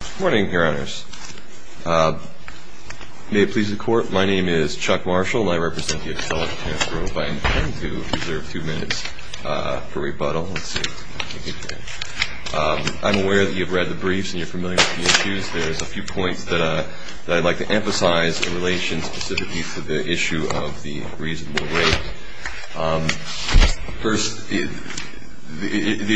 Good morning, Your Honors. May it please the Court, my name is Chuck Marshall, and I represent the Accelec-Tarrant Grove. I intend to reserve two minutes for rebuttal. I'm aware that you've read the briefs and you're familiar with the issues. There's a few points that I'd like to emphasize in relation specifically to the issue of the reasonable rate. First, the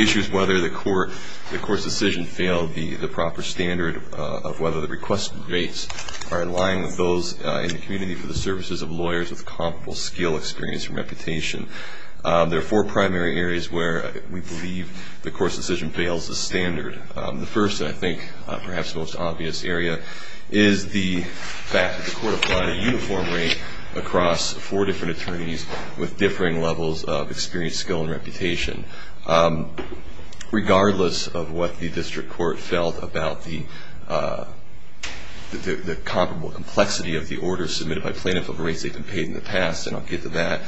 issue is whether the Court's decision failed the proper standard of whether the request rates are in line with those in the community for the services of lawyers with comparable skill, experience, or reputation. There are four primary areas where we believe the Court's decision fails the standard. The first, and I think perhaps the most obvious area, is the fact that the Court applied a uniform rate across four different attorneys with differing levels of experience, skill, and reputation. Regardless of what the District Court felt about the comparable complexity of the orders submitted by plaintiff of rates they've been paid in the past, and I'll get to that,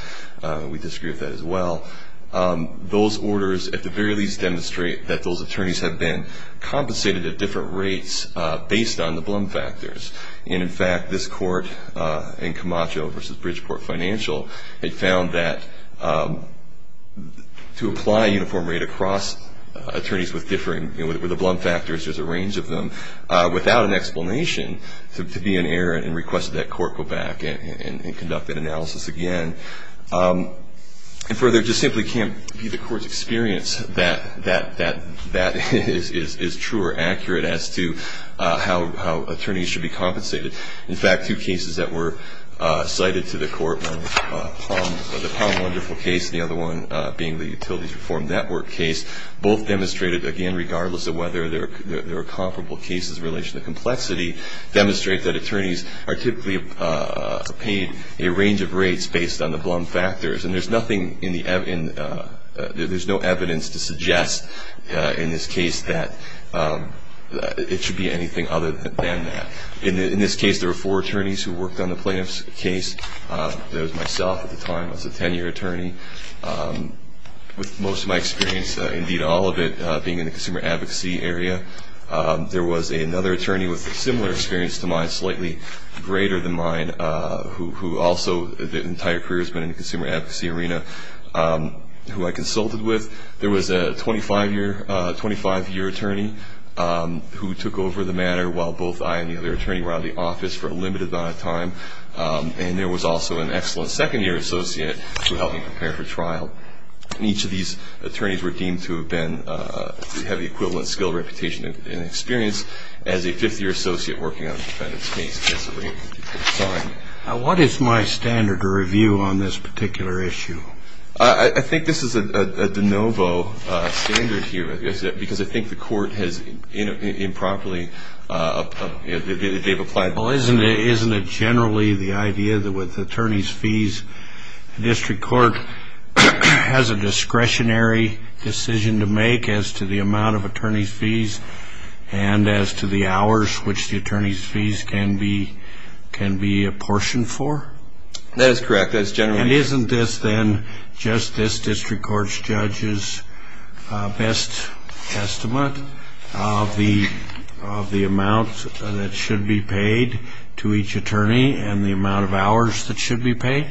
we disagree with that as well, those orders at the very least demonstrate that those attorneys have been compensated at different rates based on the Blum factors. And in fact, this Court in Camacho v. Bridgeport Financial had found that to apply a uniform rate across attorneys with differing, with the Blum factors, there's a range of them, without an explanation to be an error and request that court go back and conduct an analysis again. And further, it just simply can't be the Court's experience that is true or accurate as to how attorneys should be compensated. In fact, two cases that were cited to the Court, the Palm Wonderful case and the other one being the Utilities Reform Network case, both demonstrated, again, regardless of whether there are comparable cases in relation to complexity, demonstrate that attorneys are typically paid a range of rates based on the Blum factors. And there's nothing in the, there's no evidence to suggest in this case that it should be anything other than that. In this case, there were four attorneys who worked on the plaintiff's case. There was myself at the time, I was a 10-year attorney, with most of my experience, indeed all of it, being in the consumer advocacy area. There was another attorney with a similar experience to mine, slightly greater than mine, who also, his entire career has been in the consumer advocacy arena, who I consulted with. There was a 25-year attorney who took over the matter while both I and the other attorney were out of the office for a limited amount of time. And there was also an excellent second-year associate who helped me prepare for trial. And each of these attorneys were deemed to have been, to have the equivalent skill, reputation and experience as a fifth-year associate working on the defendant's case. What is my standard review on this particular issue? I think this is a de novo standard here, because I think the Court has improperly, they've applied. Well, isn't it generally the idea that with attorney's fees, the District Court has a discretionary decision to make as to the amount of attorney's fees and as to the hours which the attorney's fees can be apportioned for? That is correct, that is generally. And isn't this then, Justice, District Court's judge's best estimate of the amount that should be paid to each attorney and the amount of hours that should be paid?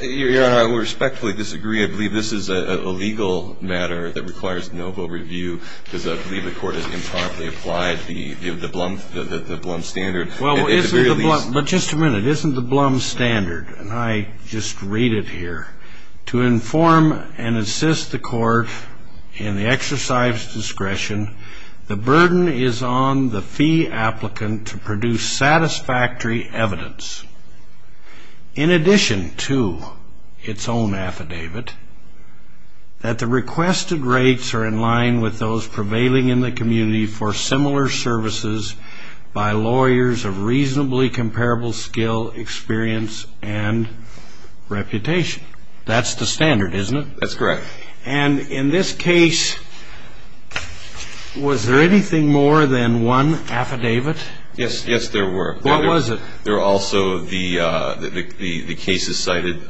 Your Honor, I would respectfully disagree. I believe this is a legal matter that requires de novo review, because I believe the Court has improperly applied the Blum standard. Well, isn't the Blum, but just a minute, isn't the Blum standard, and I just read it here, to inform and assist the Court in the exercise of discretion, the burden is on the fee applicant to produce satisfactory evidence, in addition to its own affidavit, that the requested rates are in line with those prevailing in the community for similar services by lawyers of reasonably comparable skill, experience, and reputation. That's the standard, isn't it? That's correct. And in this case, was there anything more than one affidavit? Yes, yes, there were. What was it? There were also the cases cited.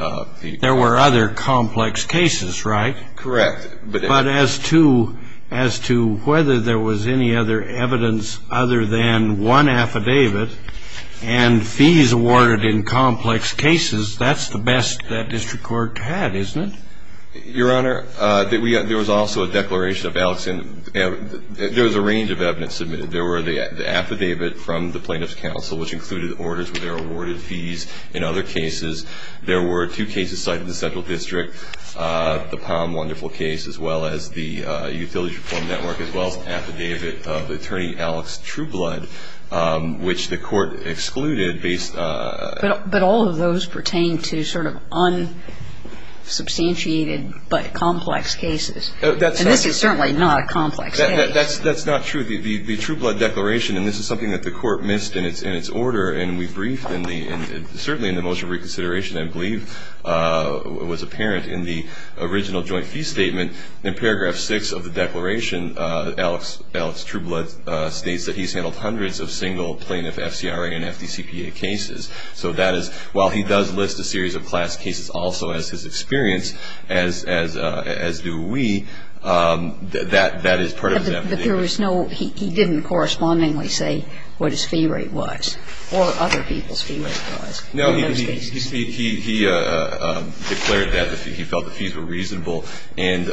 There were other complex cases, right? Correct. But as to whether there was any other evidence other than one affidavit and fees awarded in complex cases, that's the best that District Court had, isn't it? Your Honor, there was also a declaration of Alexandria. There was a range of evidence submitted. There were the affidavit from the Plaintiff's Counsel, which included orders with their awarded fees. In other cases, there were two cases cited in the Central District, the Palm Wonderful case, as well as the Utilities Reform Network, as well as an affidavit of Attorney Alex Trueblood, which the Court excluded based on. But all of those pertain to sort of unsubstantiated but complex cases. And this is certainly not a complex case. That's not true. The Trueblood declaration, and this is something that the Court missed in its order, and we briefed, and certainly in the motion of reconsideration, I believe, was apparent in the original joint fee statement. In paragraph 6 of the declaration, Alex Trueblood states that he's handled hundreds of single plaintiff FCRA and FDCPA cases. So that is, while he does list a series of class cases also as his experience, as do we, that is part of his affidavit. But there was no, he didn't correspondingly say what his fee rate was, or other people's fee rate was in those cases. No, he declared that he felt the fees were reasonable. And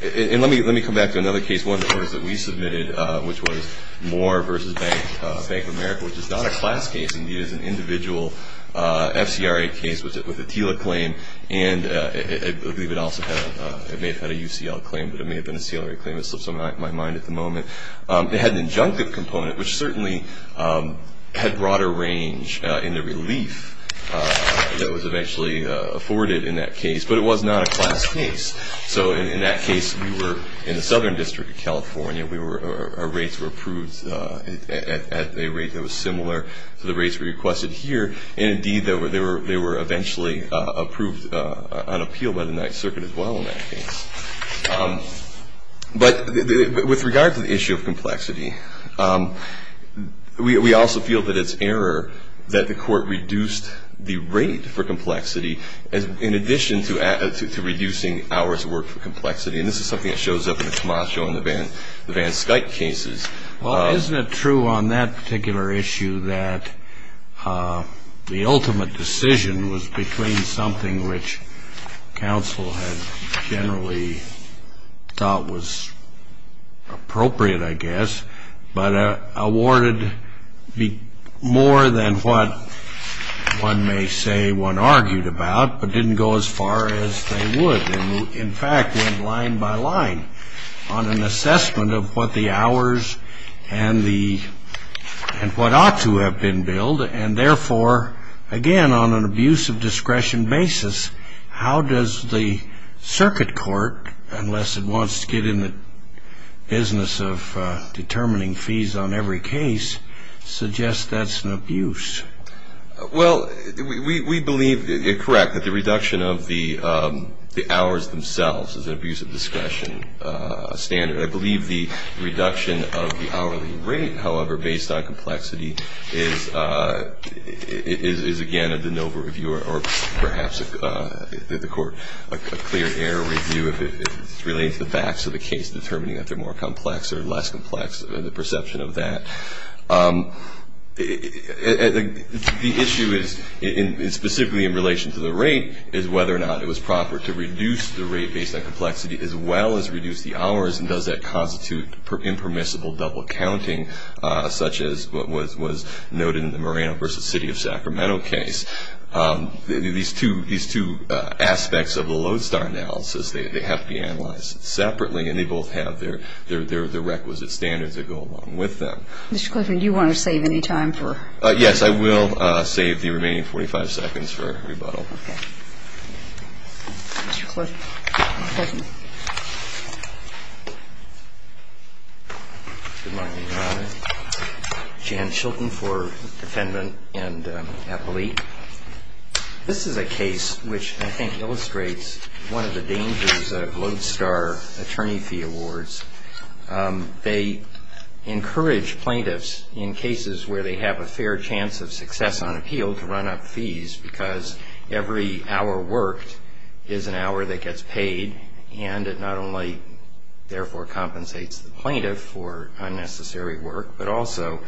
let me come back to another case. This one, of course, that we submitted, which was Moore v. Bank of America, which is not a class case. It is an individual FCRA case with a TILA claim. And I believe it also had, it may have had a UCL claim, but it may have been a CLRA claim. It slips my mind at the moment. It had an injunctive component, which certainly had broader range in the relief that was eventually afforded in that case. But it was not a class case. So in that case, we were in the Southern District of California. Our rates were approved at a rate that was similar to the rates we requested here. And indeed, they were eventually approved on appeal by the Ninth Circuit as well in that case. But with regard to the issue of complexity, we also feel that it's error that the court reduced the rate for complexity, in addition to reducing ours work for complexity. And this is something that shows up in the Camacho and the Van Skuyck cases. Well, isn't it true on that particular issue that the ultimate decision was between something which counsel had generally thought was appropriate, I guess, but awarded more than what one may say one argued about, but didn't go as far as they would? In fact, went line by line on an assessment of what the hours and what ought to have been billed, and therefore, again, on an abuse of discretion basis, how does the circuit court, unless it wants to get in the business of determining fees on every case, suggest that's an abuse? Well, we believe you're correct that the reduction of the hours themselves is an abuse of discretion standard. But I believe the reduction of the hourly rate, however, based on complexity is, again, of the NOVA review, or perhaps the court, a clear error review if it relates the facts of the case, determining if they're more complex or less complex, the perception of that. The issue is, specifically in relation to the rate, is whether or not it was proper to reduce the rate based on complexity as well as reduce the hours, and does that constitute impermissible double counting, such as what was noted in the Moreno v. City of Sacramento case. These two aspects of the Lodestar analysis, they have to be analyzed separately, and they both have their requisite standards that go along with them. Mr. Clifford, do you want to save any time for? Yes, I will save the remaining 45 seconds for rebuttal. Okay. Mr. Clifford. Good morning, Your Honor. Jan Chilton for defendant and appellee. This is a case which I think illustrates one of the dangers of Lodestar attorney fee awards. They encourage plaintiffs in cases where they have a fair chance of success on appeal to run up fees, because every hour worked is an hour that gets paid, and it not only therefore compensates the plaintiff for unnecessary work, but also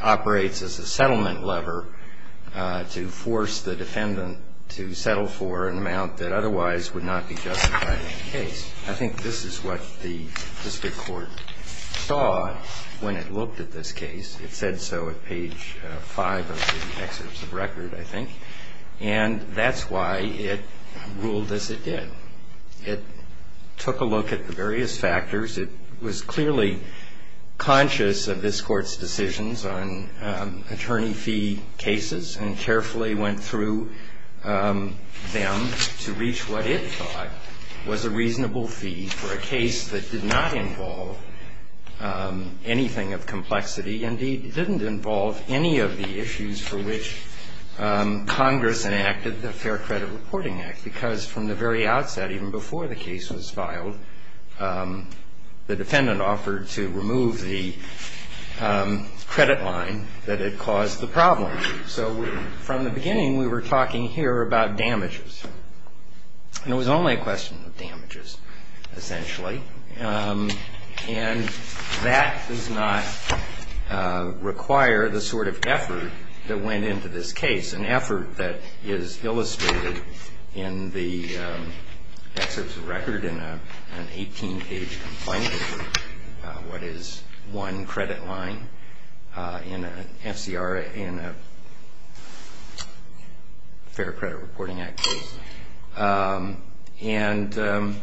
operates as a settlement lever to force the defendant to settle for an amount that otherwise would not be justified in the case. I think this is what the district court saw when it looked at this case. It said so at page 5 of the excerpts of record, I think. And that's why it ruled as it did. It took a look at the various factors. It was clearly conscious of this Court's decisions on attorney fee cases and carefully went through them to reach what it thought was a reasonable fee for a case that did not involve anything of complexity. Indeed, it didn't involve any of the issues for which Congress enacted the Fair Credit Reporting Act, because from the very outset, even before the case was filed, the defendant offered to remove the credit line that had caused the problem. So from the beginning, we were talking here about damages. And it was only a question of damages, essentially. And that does not require the sort of effort that went into this case, an effort that is illustrated in the excerpts of record in an 18-page complaint, what is one credit line in an FCR, in a Fair Credit Reporting Act case. And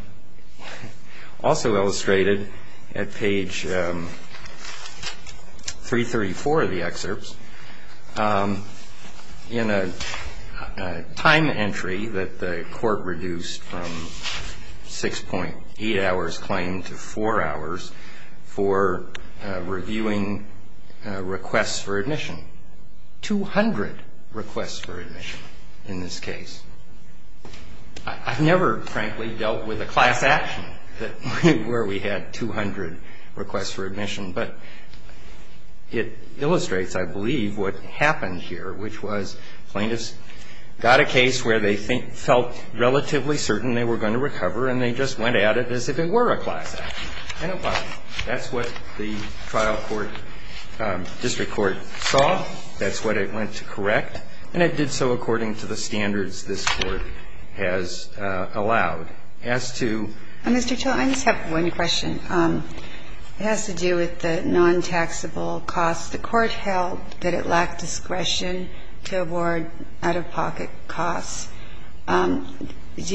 also illustrated at page 334 of the excerpts, in a time entry that the Court reduced from 6.8 hours claimed to 4 hours for reviewing requests for admission. 200 requests for admission in this case. I've never, frankly, dealt with a class action where we had 200 requests for admission. But it illustrates, I believe, what happened here, which was plaintiffs got a case where they felt relatively certain they were going to recover, and they just went at it as if it were a class action. That's what the trial court, district court saw. That's what it went to correct. And it did so according to the standards this Court has allowed. It has to do with the non-taxable costs. The Court held that it lacked discretion to award out-of-pocket costs. Do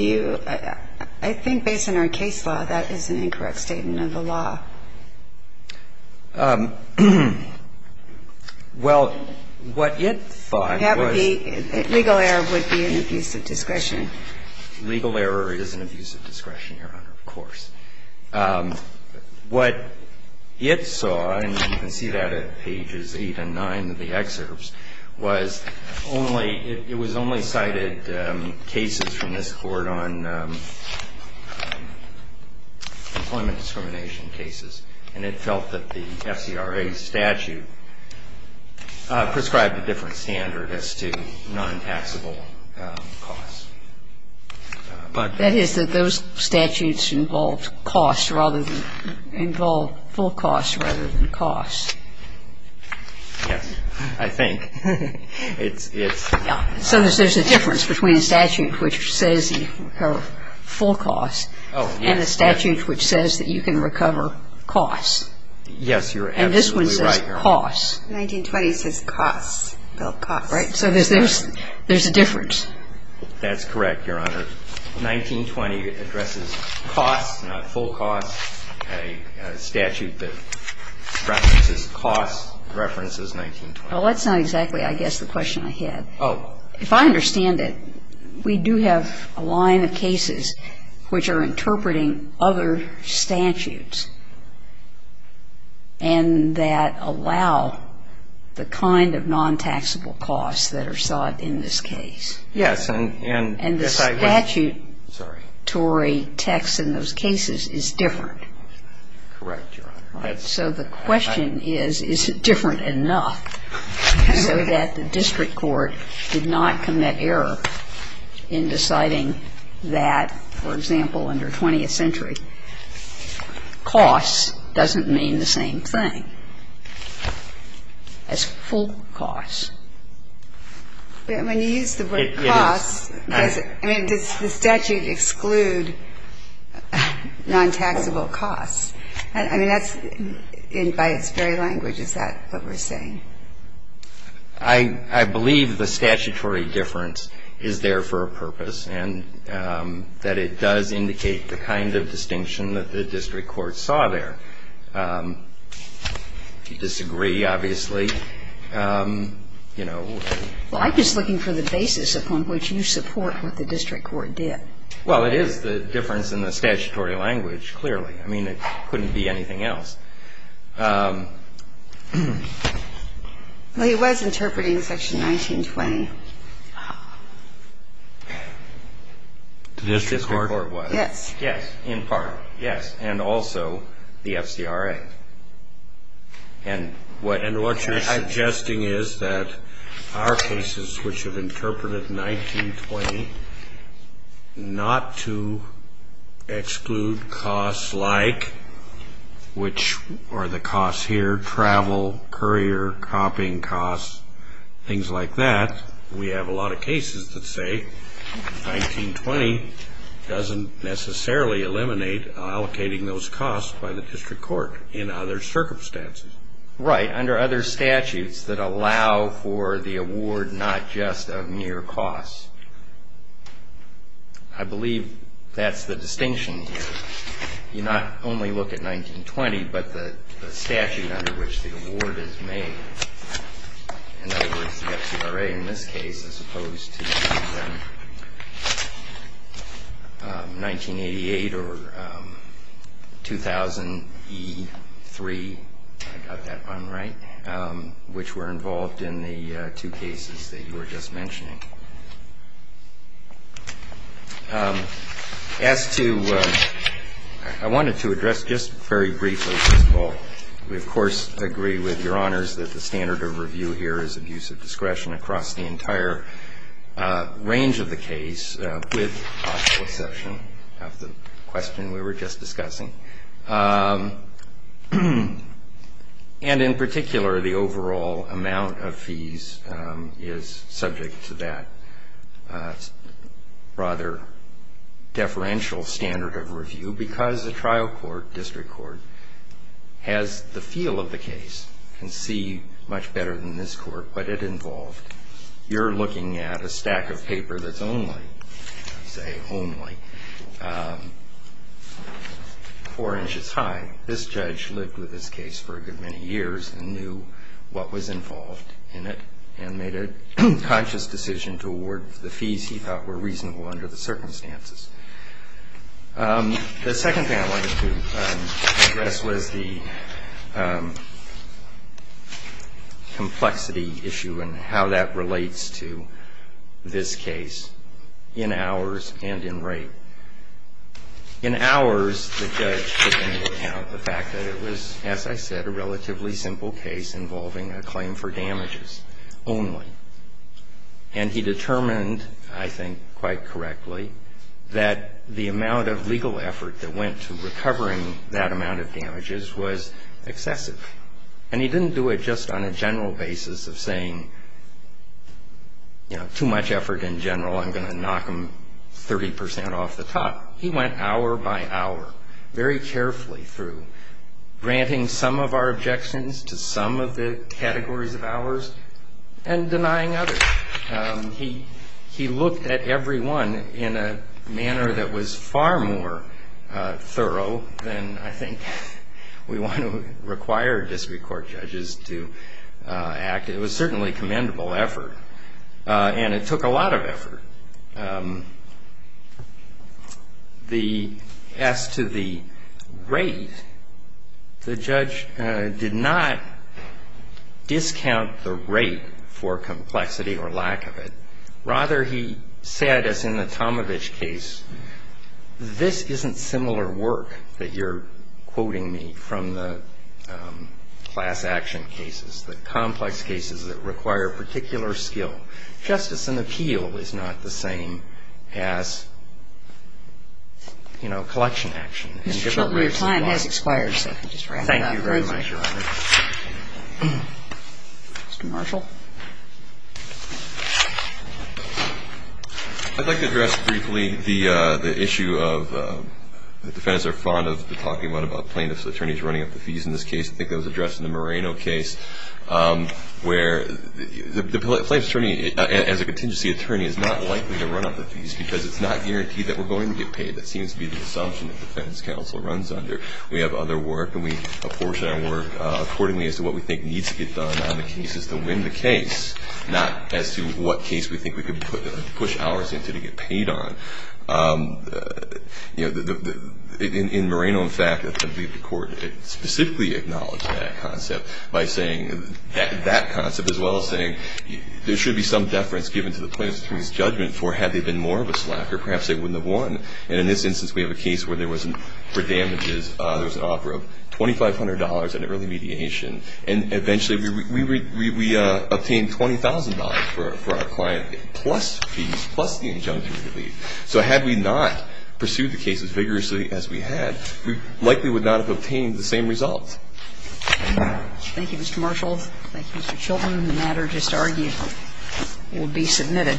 you – I think based on our case law, that is an incorrect statement of the law. Well, what it thought was – And that would be – legal error would be an abuse of discretion. Legal error is an abuse of discretion, Your Honor, of course. What it saw, and you can see that at pages 8 and 9 of the excerpts, was only – it was only cited cases from this Court on employment discrimination cases. And it felt that the SCRA statute prescribed a different standard as to non-taxable costs. But – That is, that those statutes involved costs rather than – involved full costs rather than costs. Yes. I think. It's – it's – So there's a difference between a statute which says you can recover full costs – Oh, yes. And a statute which says that you can recover costs. Yes, you're absolutely right, Your Honor. And this one says costs. 1920 says costs, Bill, costs. Right. So there's a difference. That's correct, Your Honor. 1920 addresses costs, not full costs. A statute that references costs references 1920. Well, that's not exactly, I guess, the question I had. Oh. If I understand it, we do have a line of cases which are interpreting other statutes and that allow the kind of non-taxable costs that are sought in this case. Yes, and – And the statutory text in those cases is different. Correct, Your Honor. So the question is, is it different enough so that the district court did not commit error in deciding that, for example, under 20th century, costs doesn't mean the same thing as full costs. When you use the word costs, does it – I mean, does the statute exclude non-taxable costs? I mean, that's – by its very language, is that what we're saying? I believe the statutory difference is there for a purpose and that it does indicate the kind of distinction that the district court saw there. If you disagree, obviously, you know. Well, I'm just looking for the basis upon which you support what the district court did. Well, it is the difference in the statutory language, clearly. I mean, it couldn't be anything else. Well, he was interpreting Section 1920. The district court was. Yes. Yes, in part, yes. And also the FCRA. And what you're suggesting is that our cases which have interpreted 1920 not to exclude costs like which are the costs here, travel, courier, copying costs, things like that. We have a lot of cases that say 1920 doesn't necessarily eliminate allocating those costs by the district court in other circumstances. Right. Under other statutes that allow for the award not just of mere costs. I believe that's the distinction here. You not only look at 1920, but the statute under which the award is made. In other words, the FCRA in this case as opposed to 1988 or 2000E3, I got that one right, which were involved in the two cases that you were just mentioning. As to ‑‑ I wanted to address just very briefly, first of all, we, of course, agree with Your Honors that the standard of review here is abuse of discretion across the entire range of the case, with possible exception of the question we were just discussing. And in particular, the overall amount of fees is subject to that. It's rather deferential standard of review because the trial court, district court, has the feel of the case, can see much better than this court what it involved. You're looking at a stack of paper that's only, say, only four inches high. This judge lived with this case for a good many years and knew what was involved in it and made a conscious decision to award the fees he thought were reasonable under the circumstances. The second thing I wanted to address was the complexity issue and how that relates to this case in hours and in rate. In hours, the judge took into account the fact that it was, as I said, a relatively simple case involving a claim for damages only. And he determined, I think quite correctly, that the amount of legal effort that went to recovering that amount of damages was excessive. And he didn't do it just on a general basis of saying, you know, too much effort in general, I'm going to knock them 30% off the top. He went hour by hour very carefully through granting some of our objections to some of the categories of hours and denying others. He looked at every one in a manner that was far more thorough than, I think, we want to require district court judges to act. It was certainly commendable effort, and it took a lot of effort. As to the rate, the judge did not discount the rate for complexity or lack of it. Rather, he said, as in the Tomovich case, this isn't similar work that you're quoting me from the class action cases, the complex cases that require particular skill. Justice and appeal is not the same as, you know, collection action. And he did not raise the bar. Mr. Shelby, your time has expired, so if you could just wrap it up. Thank you very much, Your Honor. Mr. Marshall. I'd like to address briefly the issue of the defense are fond of talking about plaintiffs' attorneys running up the fees in this case. I think that was addressed in the Moreno case, where the plaintiff's attorney, as a contingency attorney, is not likely to run up the fees because it's not guaranteed that we're going to get paid. That seems to be the assumption that the defense counsel runs under. We have other work, and we apportion our work accordingly as to what we think needs to get done on the cases to win the case, not as to what case we think we could push hours into to get paid on. You know, in Moreno, in fact, the court specifically acknowledged that concept by saying that concept as well as saying there should be some deference given to the plaintiff's attorney's judgment for had there been more of a slack or perhaps they wouldn't have won. And in this instance, we have a case where there was, for damages, there was an offer of $2,500 in early mediation, and eventually we obtained $20,000 for our client plus fees, so had we not pursued the case as vigorously as we had, we likely would not have obtained the same results. Thank you, Mr. Marshall. Thank you, Mr. Chilton. The matter just argued will be submitted.